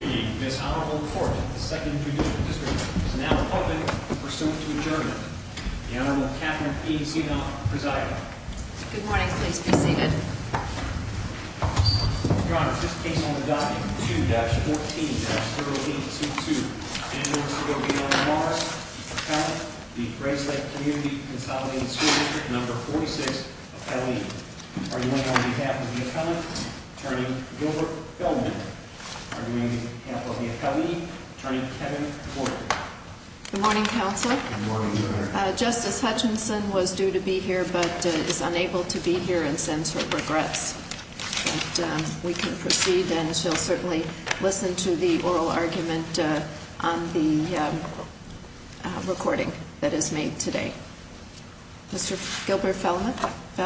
This Honorable Court of the 2nd Judicial District is now open for suit to adjournment. The Honorable Catherine E. Zinoff presiding. Good morning. Please be seated. Your Honor, this case on the document 2-14-0822, Annual Subobiano-Morris Appellant, the Grayslake Community Consolidated School District No. 46 Appellee. Arguing on behalf of the appellant, Attorney Gilbert Feldman. Arguing on behalf of the appellee, Attorney Kevin Porter. Good morning, Counselor. Good morning, Your Honor. Justice Hutchinson was due to be here but is unable to be here and sends her regrets. But we can proceed and she'll certainly listen to the oral argument on the recording that is made today. Mr. Gilbert Feldman. May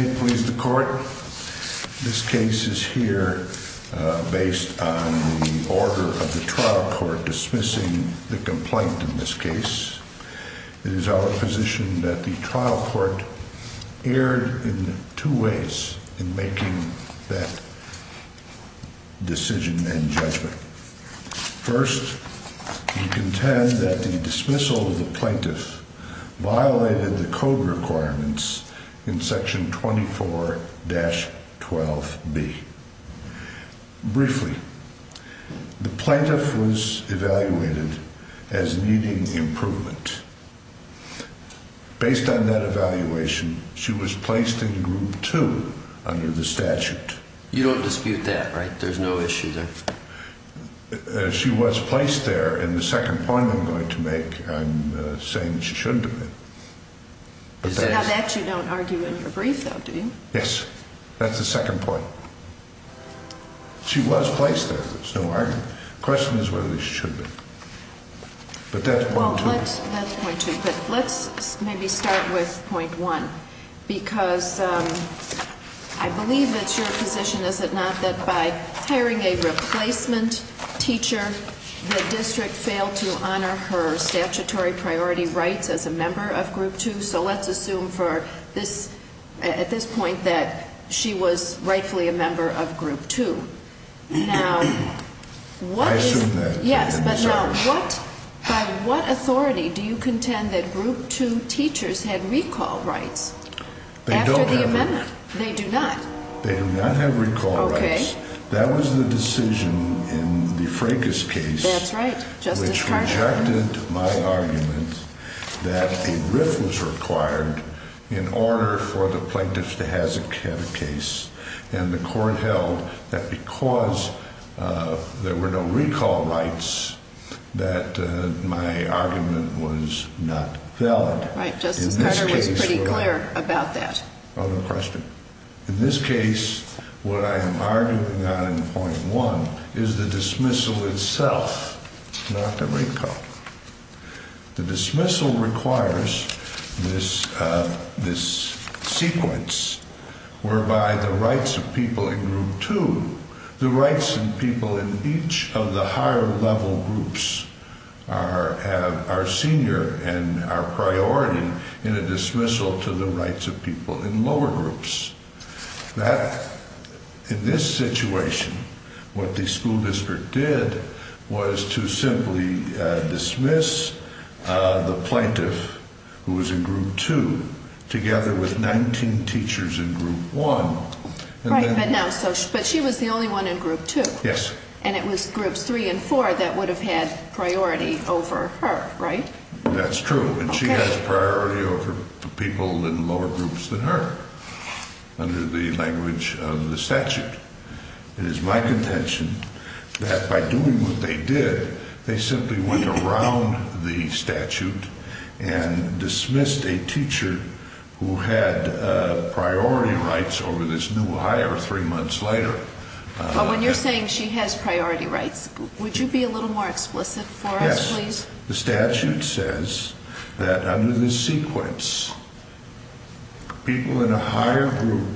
it please the Court, This case is here based on the order of the trial court dismissing the complaint in this case. It is our position that the trial court erred in two ways in making that decision and judgment. First, we contend that the dismissal of the plaintiff violated the code requirements in section 24-12B. Briefly, the plaintiff was evaluated as needing improvement. Based on that evaluation, she was placed in group 2 under the statute. You don't dispute that, right? There's no issue there? She was placed there, and the second point I'm going to make, I'm saying that she shouldn't have been. So now that you don't argue in your brief, though, do you? Yes. That's the second point. She was placed there. There's no argument. The question is whether she should be. But that's point two. Let's maybe start with point one. Because I believe it's your position, is it not, that by hiring a replacement teacher, the district failed to honor her statutory priority rights as a member of group 2? So let's assume at this point that she was rightfully a member of group 2. I assume that. Yes, but now by what authority do you contend that group 2 teachers had recall rights after the amendment? They do not. They do not have recall rights. Okay. That was the decision in the Fracas case. That's right. Which rejected my argument that a RIF was required in order for the plaintiff to have a case. And the court held that because there were no recall rights, that my argument was not valid. Right. Justice Carter was pretty clear about that. Other question? In this case, what I am arguing on in point one is the dismissal itself, not the recall. The dismissal requires this sequence whereby the rights of people in group 2, the rights of people in each of the higher level groups are senior and are priority in a dismissal to the rights of people in lower groups. In this situation, what the school district did was to simply dismiss the plaintiff who was in group 2 together with 19 teachers in group 1. Right, but she was the only one in group 2. Yes. And it was groups 3 and 4 that would have had priority over her, right? That's true, and she has priority over people in lower groups than her under the language of the statute. It is my contention that by doing what they did, they simply went around the statute and dismissed a teacher who had priority rights over this new higher three months later. But when you're saying she has priority rights, would you be a little more explicit for us, please? The statute says that under this sequence, people in a higher group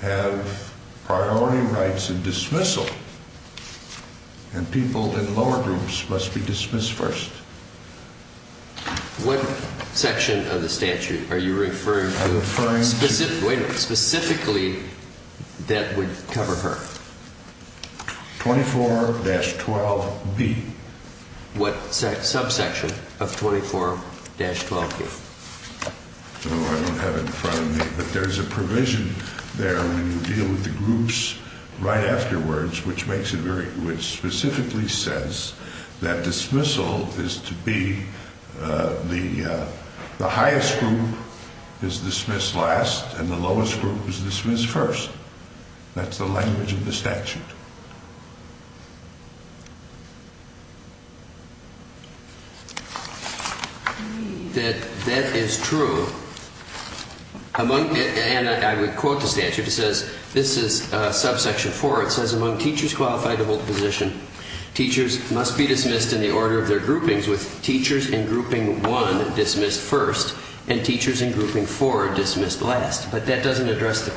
have priority rights in dismissal, and people in lower groups must be dismissed first. What section of the statute are you referring to? I'm referring to... Wait a minute. Specifically, that would cover her. 24-12B. What subsection of 24-12B? I don't have it in front of me, but there's a provision there when you deal with the groups right afterwards, which specifically says that dismissal is to be... The highest group is dismissed last, and the lowest group is dismissed first. That's the language of the statute. That is true. And I would quote the statute. It says, this is subsection 4. It says, among teachers qualified to hold a position, teachers must be dismissed in the order of their groupings, with teachers in grouping 1 dismissed first and teachers in grouping 4 dismissed last. But that doesn't address the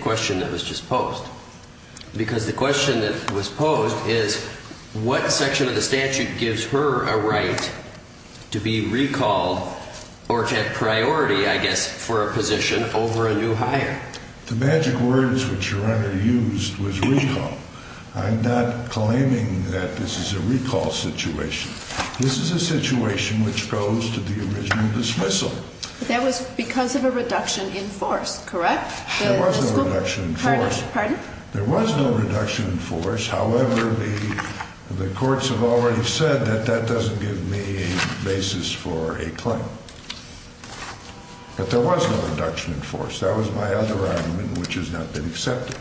question that was just posed. Because the question that was posed is, what section of the statute gives her a right to be recalled or to have priority, I guess, for a position over a new hire? The magic words which Your Honor used was recall. I'm not claiming that this is a recall situation. This is a situation which goes to the original dismissal. That was because of a reduction in force, correct? There was no reduction in force. Pardon? There was no reduction in force. However, the courts have already said that that doesn't give me a basis for a claim. But there was no reduction in force. That was my other argument, which has not been accepted.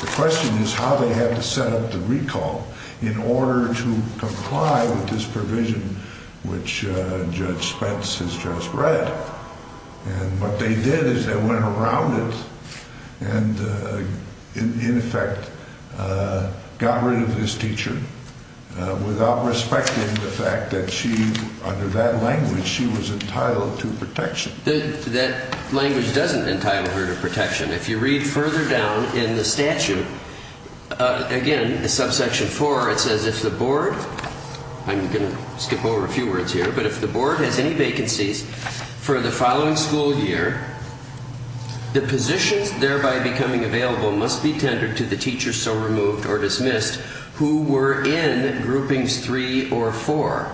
The question is how they had to set up the recall in order to comply with this provision, which Judge Spence has just read. And what they did is they went around it and, in effect, got rid of this teacher without respecting the fact that she, under that language, she was entitled to protection. That language doesn't entitle her to protection. If you read further down in the statute, again, subsection 4, it says, if the board, I'm going to skip over a few words here, but if the board has any vacancies for the following school year, the positions thereby becoming available must be tendered to the teacher so removed or dismissed who were in groupings 3 or 4.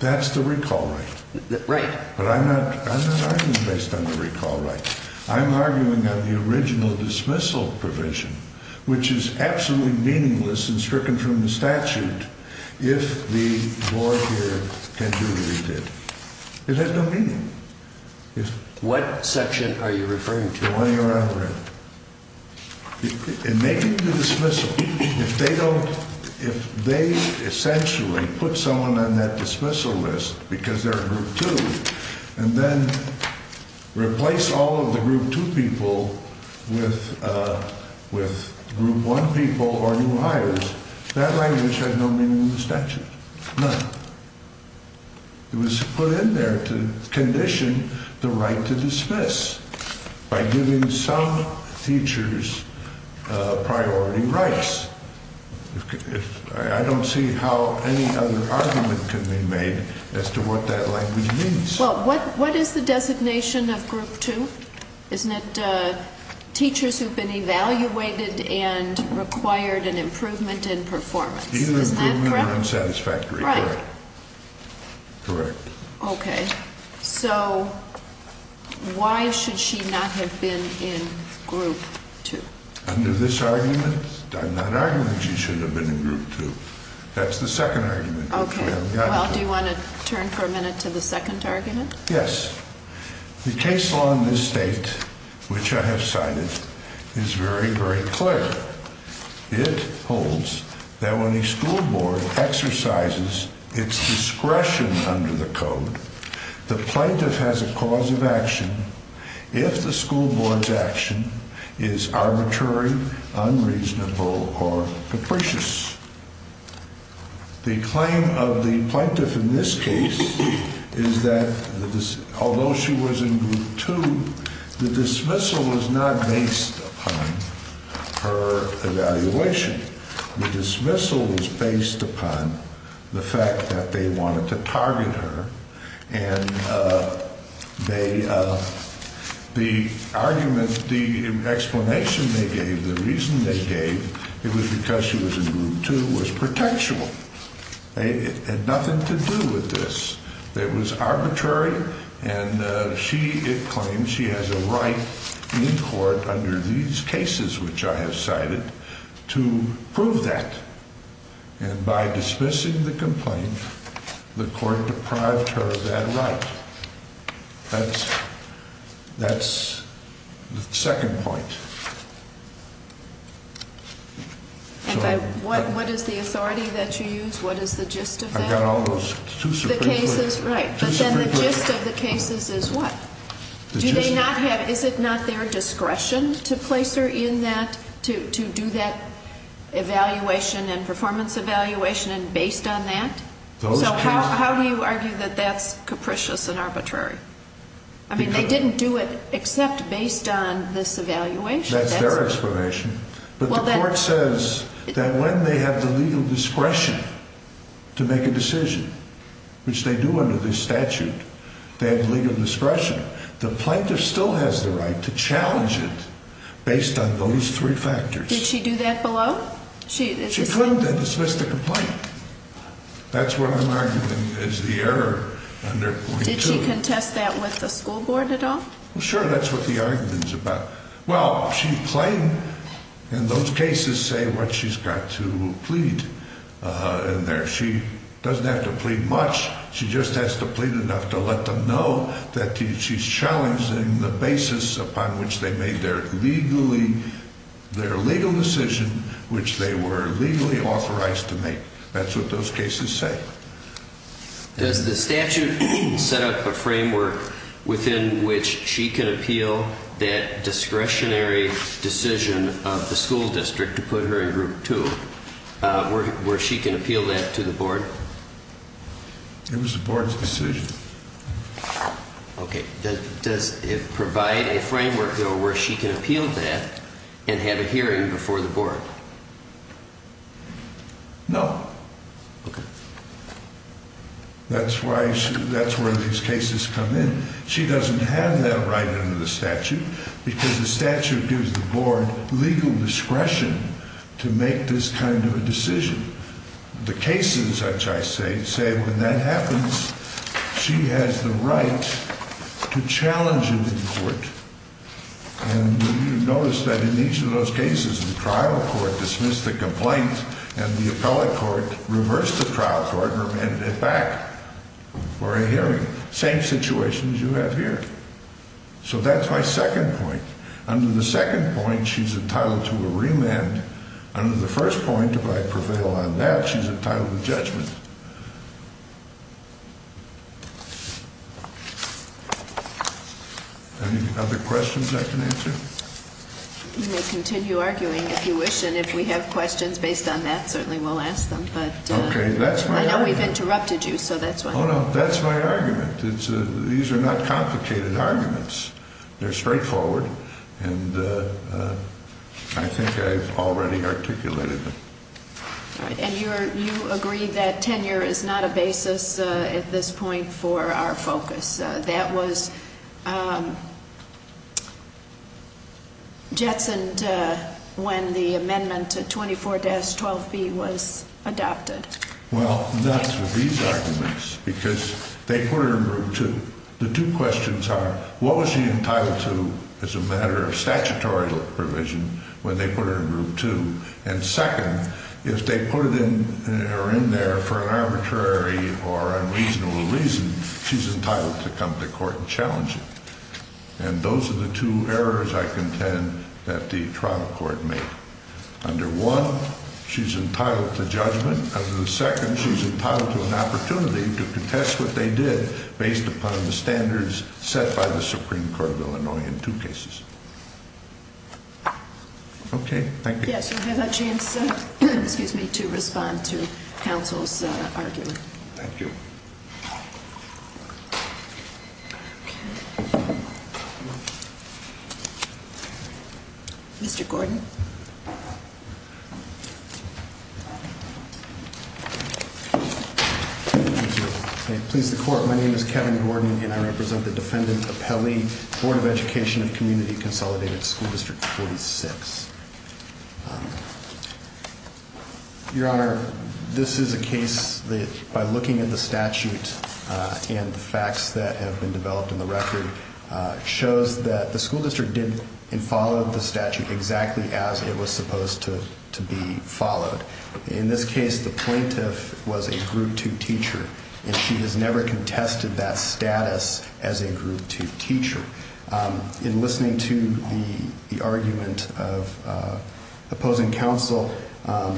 That's the recall right. Right. But I'm not arguing based on the recall right. I'm arguing on the original dismissal provision, which is absolutely meaningless and stricken from the statute if the board here can do what it did. It has no meaning. What section are you referring to? It may be the dismissal. If they don't, if they essentially put someone on that dismissal list because they're in group 2 and then replace all of the group 2 people with group 1 people or new hires, that language has no meaning in the statute. None. It was put in there to condition the right to dismiss by giving some teachers priority rights. I don't see how any other argument can be made as to what that language means. Well, what is the designation of group 2? Isn't it teachers who've been evaluated and required an improvement in performance? Either improvement or unsatisfactory. Correct. Okay. So why should she not have been in group 2? Under this argument, I'm not arguing she should have been in group 2. That's the second argument. Well, do you want to turn for a minute to the second argument? Yes. The case law in this state, which I have cited, is very, very clear. It holds that when a school board exercises its discretion under the code, the plaintiff has a cause of action if the school board's action is arbitrary, unreasonable, or capricious. The claim of the plaintiff in this case is that although she was in group 2, the dismissal was not based upon her evaluation. The dismissal was based upon the fact that they wanted to target her, and the argument, the explanation they gave, the reason they gave, it was because she was in group 2 was pretextual. It had nothing to do with this. It was arbitrary, and she claims she has a right in court under these cases, which I have cited, to prove that. And by dismissing the complaint, the court deprived her of that right. That's the second point. And what is the authority that you use? What is the gist of that? I've got all those. The cases, right. But then the gist of the cases is what? The gist of it. Do they not have, is it not their discretion to place her in that, to do that evaluation and performance evaluation based on that? Those cases. How do you argue that that's capricious and arbitrary? I mean, they didn't do it except based on this evaluation. That's their explanation. But the court says that when they have the legal discretion to make a decision, which they do under this statute, they have legal discretion, the plaintiff still has the right to challenge it based on those three factors. Did she do that below? She couldn't have dismissed the complaint. That's what I'm arguing is the error under 42. Did she contest that with the school board at all? Sure. That's what the argument is about. Well, she claimed in those cases say what she's got to plead in there. She doesn't have to plead much. She just has to plead enough to let them know that she's challenging the basis upon which they made their legally, their legal decision, which they were legally authorized to make. That's what those cases say. Does the statute set up a framework within which she can appeal that discretionary decision of the school district to put her in group two where she can appeal that to the board? It was the board's decision. Okay. Does it provide a framework where she can appeal that and have a hearing before the board? No. Okay. That's where these cases come in. She doesn't have that right under the statute because the statute gives the board legal discretion to make this kind of a decision. The cases, which I say, say when that happens, she has the right to challenge it in court. And you notice that in each of those cases, the trial court dismissed the complaint and the appellate court reversed the trial court and remanded it back for a hearing. Same situation as you have here. So that's my second point. Under the second point, she's entitled to a remand. Under the first point, if I prevail on that, she's entitled to judgment. Any other questions I can answer? You may continue arguing if you wish, and if we have questions based on that, certainly we'll ask them. Okay. That's my argument. I know we've interrupted you, so that's why. Oh, no. That's my argument. These are not complicated arguments. They're straightforward, and I think I've already articulated them. All right. And you agreed that tenure is not a basis at this point for our focus. That was jetsoned when the amendment to 24-12B was adopted. Well, that's with these arguments because they put her in group two. The two questions are, what was she entitled to as a matter of statutory provision when they put her in group two? And second, if they put her in there for an arbitrary or unreasonable reason, she's entitled to come to court and challenge it. And those are the two errors, I contend, that the trial court made. Under one, she's entitled to judgment. Under the second, she's entitled to an opportunity to contest what they did based upon the standards set by the Supreme Court of Illinois in two cases. Okay. Thank you. Yes, you have a chance to respond to counsel's argument. Thank you. Mr. Gordon. Thank you. May it please the Court, my name is Kevin Gordon, and I represent the defendant, Apelli, Board of Education of Community Consolidated School District 46. Your Honor, this is a case that, by looking at the statute and the facts that have been developed in the record, shows that the school district did and followed the statute exactly as it was supposed to be followed. In this case, the plaintiff was a group two teacher, and she has never contested that status as a group two teacher. In listening to the argument of opposing counsel, I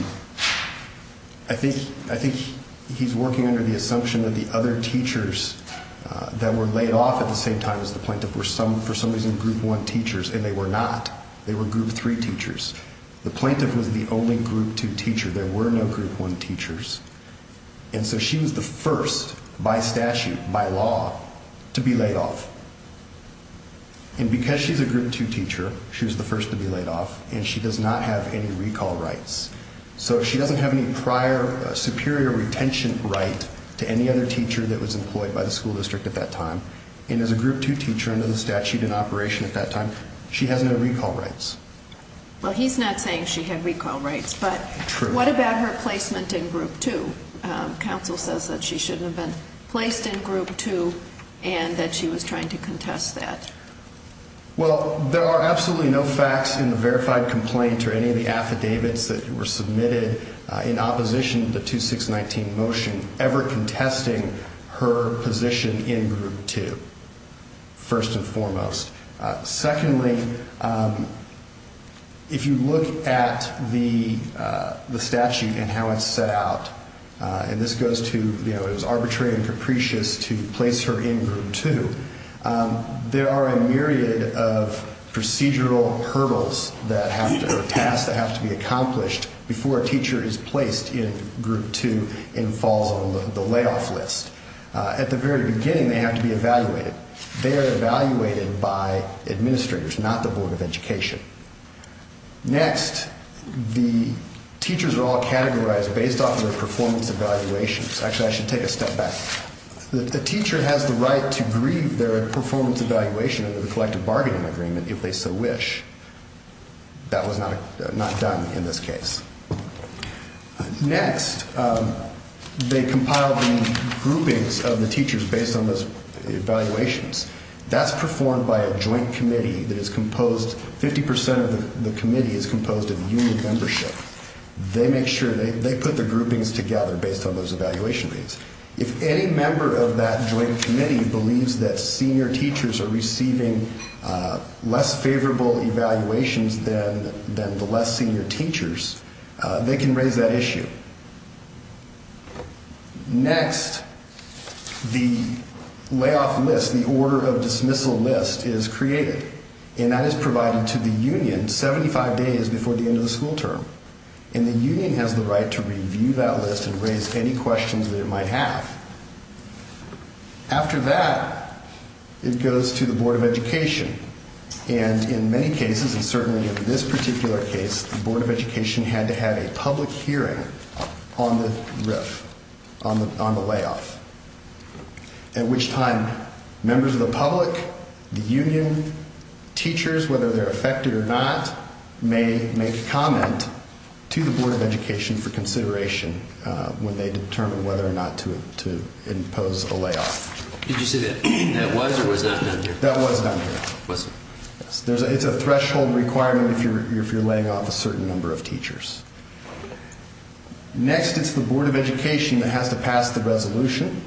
think he's working under the assumption that the other teachers that were laid off at the same time as the plaintiff were, for some reason, group one teachers, and they were not. They were group three teachers. The plaintiff was the only group two teacher. There were no group one teachers. And so she was the first, by statute, by law, to be laid off. And because she's a group two teacher, she was the first to be laid off, and she does not have any recall rights. So she doesn't have any prior superior retention right to any other teacher that was employed by the school district at that time. And as a group two teacher under the statute in operation at that time, she has no recall rights. Well, he's not saying she had recall rights, but what about her placement in group two? Counsel says that she shouldn't have been placed in group two and that she was trying to contest that. Well, there are absolutely no facts in the verified complaint or any of the affidavits that were submitted in opposition to the 2619 motion ever contesting her position in group two, first and foremost. Secondly, if you look at the statute and how it's set out, and this goes to it was arbitrary and capricious to place her in group two, there are a myriad of procedural hurdles or tasks that have to be accomplished before a teacher is placed in group two and falls on the layoff list. At the very beginning, they have to be evaluated. They are evaluated by administrators, not the Board of Education. Next, the teachers are all categorized based off their performance evaluations. Actually, I should take a step back. The teacher has the right to grieve their performance evaluation of the collective bargaining agreement if they so wish. That was not done in this case. Next, they compile the groupings of the teachers based on those evaluations. That's performed by a joint committee that is composed 50 percent of the committee is composed of union membership. They make sure they put the groupings together based on those evaluation rates. If any member of that joint committee believes that senior teachers are receiving less favorable evaluations than the less senior teachers, they can raise that issue. Next, the layoff list, the order of dismissal list is created, and that is provided to the union 75 days before the end of the school term. The union has the right to review that list and raise any questions that it might have. After that, it goes to the Board of Education. In many cases, and certainly in this particular case, the Board of Education had to have a public hearing on the layoff. At which time, members of the public, the union, teachers, whether they're affected or not, may make a comment to the Board of Education for consideration when they determine whether or not to impose a layoff. Did you say that was or was not done here? That was done here. It's a threshold requirement if you're laying off a certain number of teachers. Next, it's the Board of Education that has to pass the resolution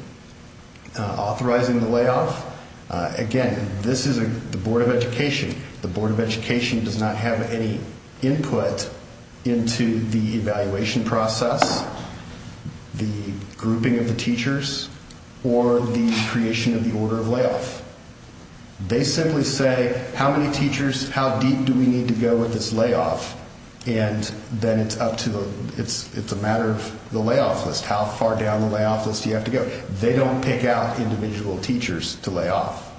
authorizing the layoff. Again, this is the Board of Education. The Board of Education does not have any input into the evaluation process, the grouping of the teachers, or the creation of the order of layoff. They simply say, how many teachers, how deep do we need to go with this layoff, and then it's a matter of the layoff list. How far down the layoff list do you have to go? They don't pick out individual teachers to lay off.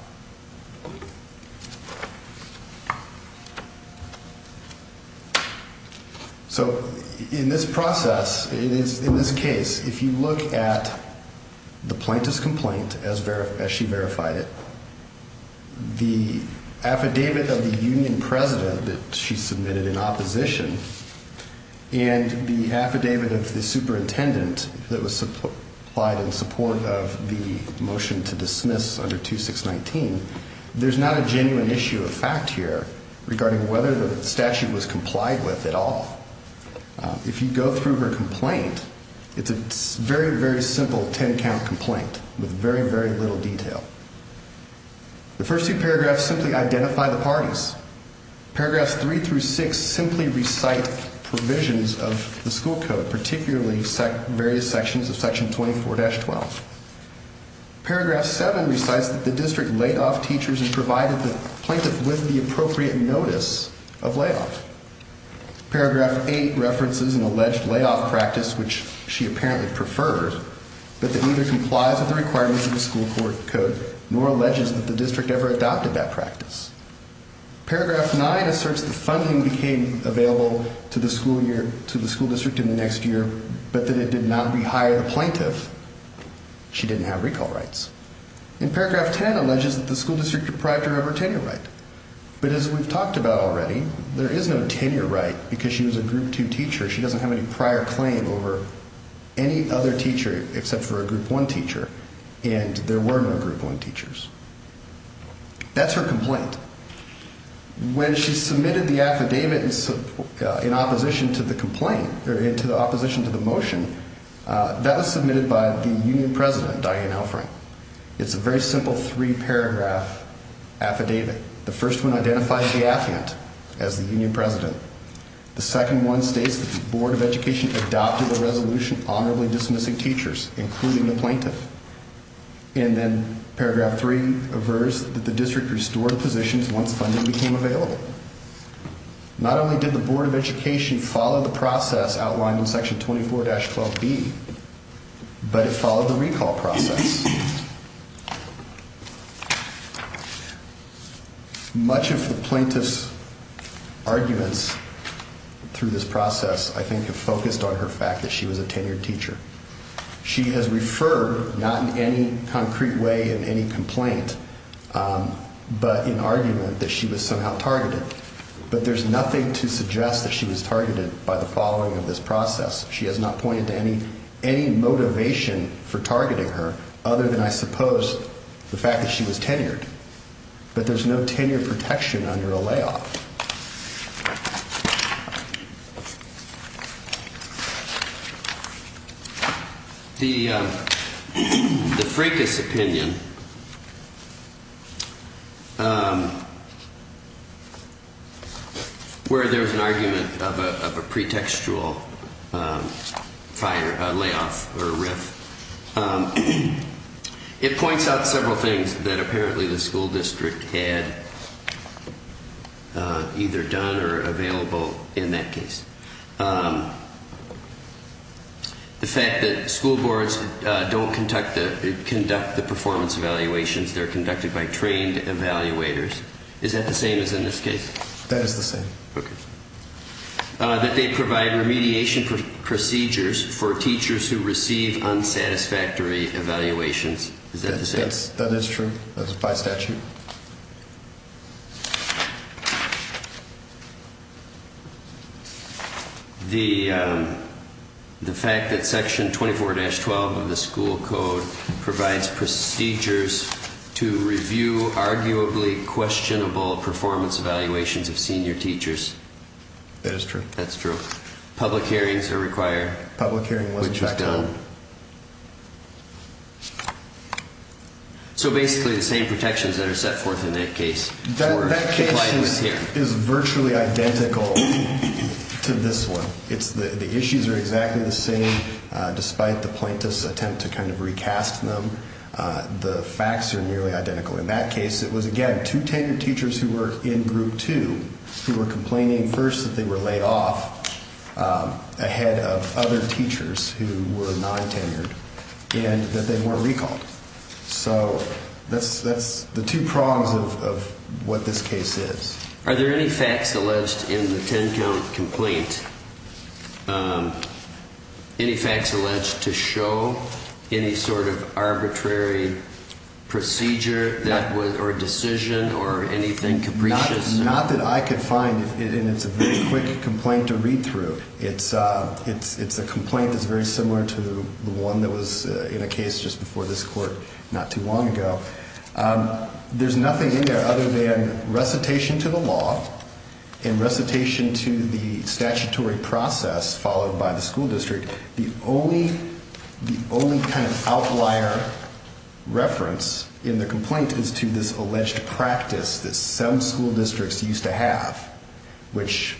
So, in this process, in this case, if you look at the plaintiff's complaint as she verified it, the affidavit of the union president that she submitted in opposition, and the affidavit of the superintendent that was supplied in support of the motion to dismiss under 2619, there's not a genuine issue of fact here regarding whether the statute was complied with at all. If you go through her complaint, it's a very, very simple ten-count complaint with very, very little detail. The first two paragraphs simply identify the parties. Paragraphs three through six simply recite provisions of the school code, particularly various sections of section 24-12. Paragraph seven recites that the district laid off teachers and provided the plaintiff with the appropriate notice of layoff. Paragraph eight references an alleged layoff practice, which she apparently preferred, but that neither complies with the requirements of the school code, nor alleges that the district ever adopted that practice. Paragraph nine asserts the funding became available to the school district in the next year, but that it did not rehire the plaintiff. She didn't have recall rights. And paragraph ten alleges that the school district deprived her of her tenure right. But as we've talked about already, there is no tenure right because she was a group two teacher. She doesn't have any prior claim over any other teacher except for a group one teacher, and there were no group one teachers. That's her complaint. When she submitted the affidavit in opposition to the motion, that was submitted by the union president, Diane Elfring. It's a very simple three-paragraph affidavit. The first one identifies the affidavit as the union president. The second one states that the Board of Education adopted a resolution honorably dismissing teachers, including the plaintiff. And then paragraph three averts that the district restored positions once funding became available. Not only did the Board of Education follow the process outlined in section 24-12B, but it followed the recall process. Much of the plaintiff's arguments through this process, I think, have focused on her fact that she was a tenured teacher. She has referred, not in any concrete way in any complaint, but in argument that she was somehow targeted. But there's nothing to suggest that she was targeted by the following of this process. She has not pointed to any motivation for targeting her other than, I suppose, the fact that she was tenured. But there's no tenure protection under a layoff. The Fracas opinion, where there's an argument of a pretextual layoff or rift, it points out several things that apparently the school district had either done or available in that case. The fact that school boards don't conduct the performance evaluations. They're conducted by trained evaluators. Is that the same as in this case? That is the same. Okay. That they provide remediation procedures for teachers who receive unsatisfactory evaluations. Is that the same? That is true. That's by statute. The fact that section 24-12 of the school code provides procedures to review arguably questionable performance evaluations of senior teachers. That is true. That's true. Public hearings are required. Public hearing wasn't done. Which was done. So basically the same protections that are set forth in that case. That case is virtually identical to this one. The issues are exactly the same despite the plaintiff's attempt to kind of recast them. The facts are nearly identical. In that case, it was, again, two tenured teachers who were in group two who were complaining first that they were laid off ahead of other teachers who were non-tenured and that they weren't recalled. So that's the two prongs of what this case is. Are there any facts alleged in the ten count complaint, any facts alleged to show any sort of arbitrary procedure or decision or anything capricious? Not that I could find. And it's a very quick complaint to read through. It's a complaint that's very similar to the one that was in a case just before this court not too long ago. There's nothing in there other than recitation to the law and recitation to the statutory process followed by the school district. The only kind of outlier reference in the complaint is to this alleged practice that some school districts used to have, which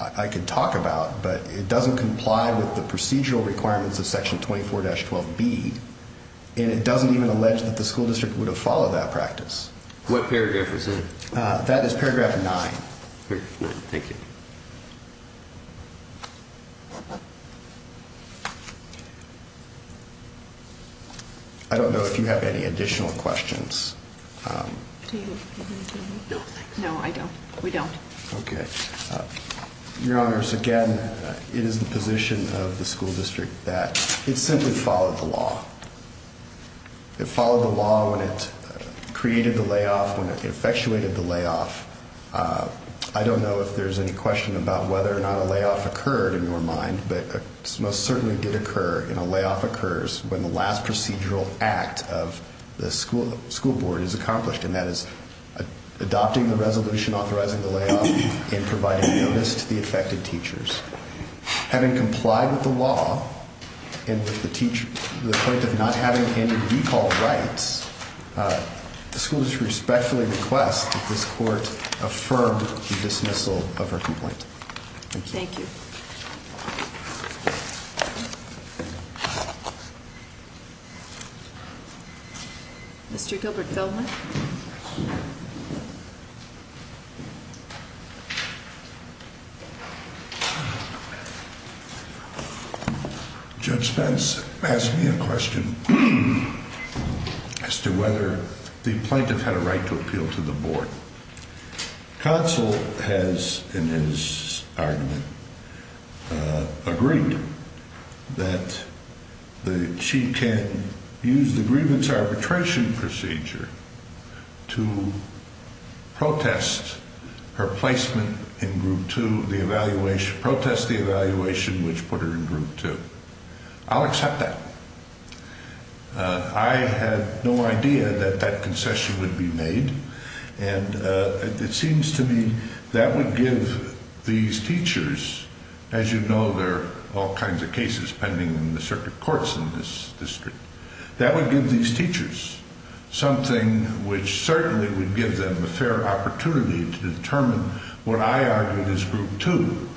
I could talk about, but it doesn't comply with the procedural requirements of Section 24-12B. And it doesn't even allege that the school district would have followed that practice. What paragraph is that? That is paragraph nine. Thank you. I don't know if you have any additional questions. No, I don't. We don't. Okay. Your Honors, again, it is the position of the school district that it simply followed the law. It followed the law when it created the layoff, when it effectuated the layoff. I don't know if there's any question about whether or not a layoff occurred in your mind, but it most certainly did occur. And a layoff occurs when the last procedural act of the school board is accomplished, and that is adopting the resolution authorizing the layoff and providing notice to the affected teachers. Having complied with the law and with the point of not having any recall rights, the school district respectfully requests that this court affirm the dismissal of her complaint. Thank you. Thank you. Mr. Gilbert-Feldman? Judge Spence asked me a question as to whether the plaintiff had a right to appeal to the board. Counsel has, in his argument, agreed that she can use the grievance arbitration procedure to protest her placement in Group 2, the evaluation, protest the evaluation which put her in Group 2. I'll accept that. I had no idea that that concession would be made, and it seems to me that would give these teachers, as you know, there are all kinds of cases pending in the circuit courts in this district, that would give these teachers something which certainly would give them a fair opportunity to determine what I argued as Group 2,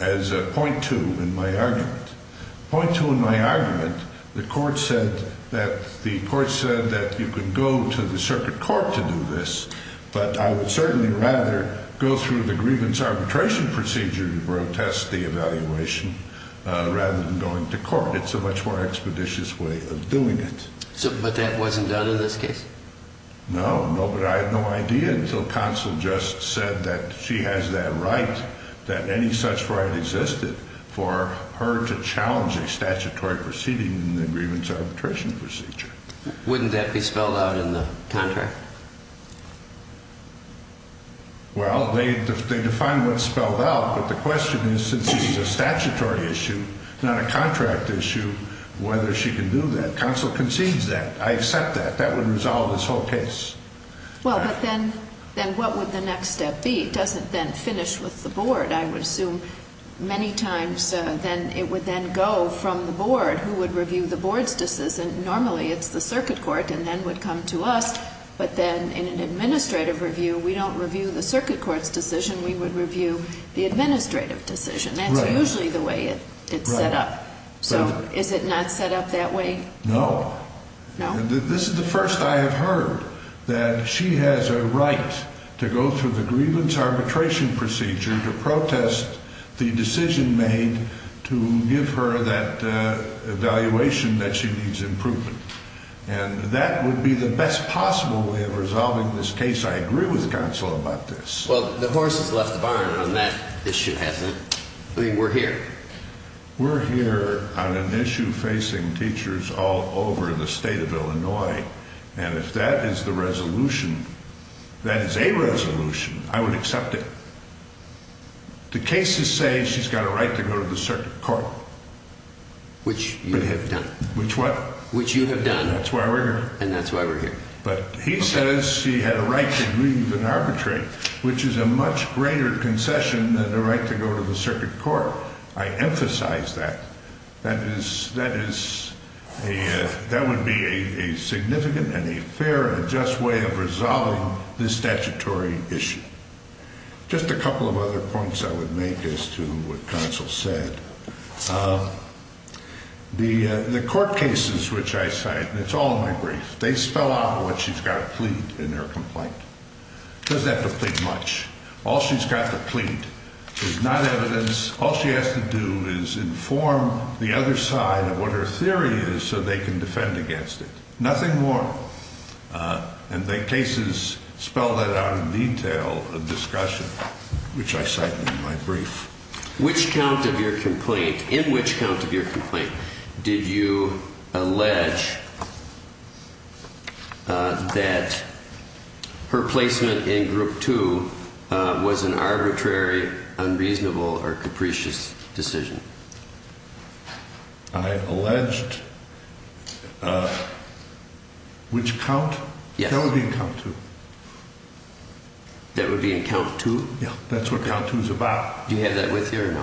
as Point 2 in my argument. Point 2 in my argument, the court said that you could go to the circuit court to do this, but I would certainly rather go through the grievance arbitration procedure to protest the evaluation rather than going to court. It's a much more expeditious way of doing it. But that wasn't done in this case? No, but I had no idea until Counsel just said that she has that right, that any such right existed, for her to challenge a statutory proceeding in the grievance arbitration procedure. Wouldn't that be spelled out in the contract? Well, they defined what's spelled out, but the question is, since this is a statutory issue, not a contract issue, whether she can do that. I accept that. That would resolve this whole case. Well, but then what would the next step be? It doesn't then finish with the board, I would assume. Many times it would then go from the board, who would review the board's decision. Normally it's the circuit court and then would come to us, but then in an administrative review, we don't review the circuit court's decision, we would review the administrative decision. That's usually the way it's set up. So is it not set up that way? No. This is the first I have heard, that she has a right to go through the grievance arbitration procedure to protest the decision made to give her that evaluation that she needs improvement. And that would be the best possible way of resolving this case. I agree with Counsel about this. Well, the horse has left the barn on that issue, hasn't it? I mean, we're here. We're here on an issue facing teachers all over the state of Illinois, and if that is the resolution, that is a resolution, I would accept it. The cases say she's got a right to go to the circuit court. Which you have done. Which what? Which you have done. And that's why we're here. And that's why we're here. But he says she had a right to leave an arbitrate, which is a much greater concession than the right to go to the circuit court. I emphasize that. That is, that is, that would be a significant and a fair and just way of resolving this statutory issue. Just a couple of other points I would make as to what Counsel said. The court cases which I cite, and it's all in my brief, they spell out what she's got to plead in her complaint. Doesn't have to plead much. All she's got to plead is not evidence. All she has to do is inform the other side of what her theory is so they can defend against it. Nothing more. And the cases spell that out in detail of discussion, which I cite in my brief. Which count of your complaint, in which count of your complaint, did you allege that her placement in group two was an arbitrary, unreasonable or capricious decision? I alleged which count? That would be in count two. That would be in count two? Yeah. That's what count two is about. Do you have that with you or no?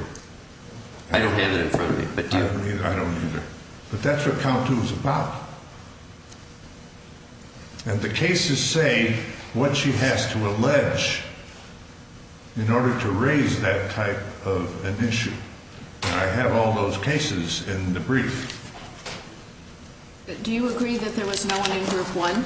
I don't have it in front of me, but do you? I don't either. But that's what count two is about. And the cases say what she has to allege in order to raise that type of an issue. And I have all those cases in the brief. Do you agree that there was no one in group one?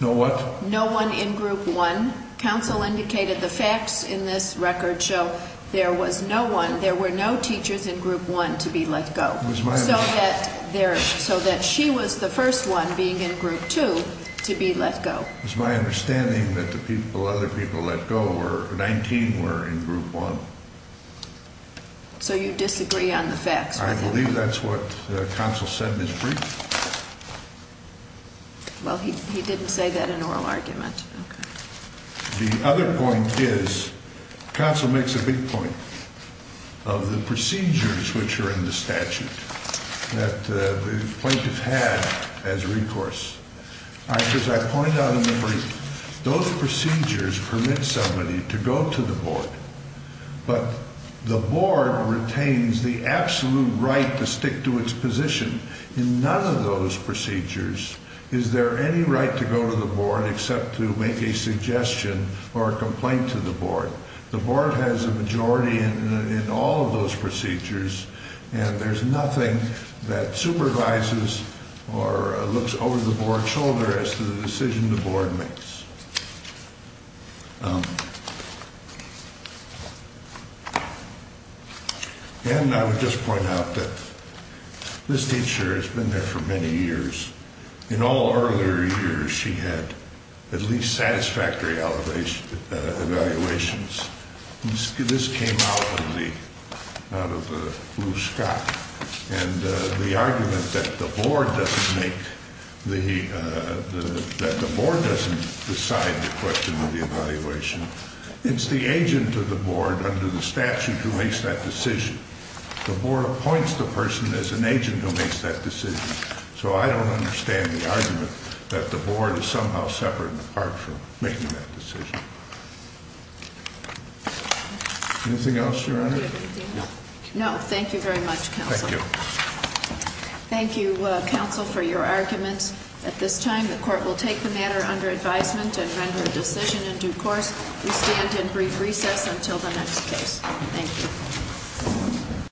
No what? No one in group one. Counsel indicated the facts in this record show there was no one, there were no teachers in group one to be let go. It was my understanding. So that she was the first one being in group two to be let go. It was my understanding that the people, other people let go were 19 were in group one. So you disagree on the facts? I believe that's what counsel said in his brief. Well, he didn't say that in oral argument. Okay. The other point is, counsel makes a big point of the procedures which are in the statute that the plaintiff had as recourse. Because I point out in the brief, those procedures permit somebody to go to the board, but the board retains the absolute right to stick to its position. In none of those procedures is there any right to go to the board except to make a suggestion or a complaint to the board. The board has a majority in all of those procedures and there's nothing that supervises or looks over the board's shoulder as to the decision the board makes. And I would just point out that this teacher has been there for many years. In all earlier years, she had at least satisfactory evaluations. This came out of the Blue Scott. And the argument that the board doesn't decide the question of the evaluation, it's the agent of the board under the statute who makes that decision. The board appoints the person as an agent who makes that decision. So I don't understand the argument that the board is somehow separate and apart from making that decision. Anything else, Your Honor? No. No. Thank you very much, counsel. Thank you. Thank you, counsel, for your arguments. At this time, the court will take the matter under advisement and render a decision in due course. We stand in brief recess until the next case. Thank you.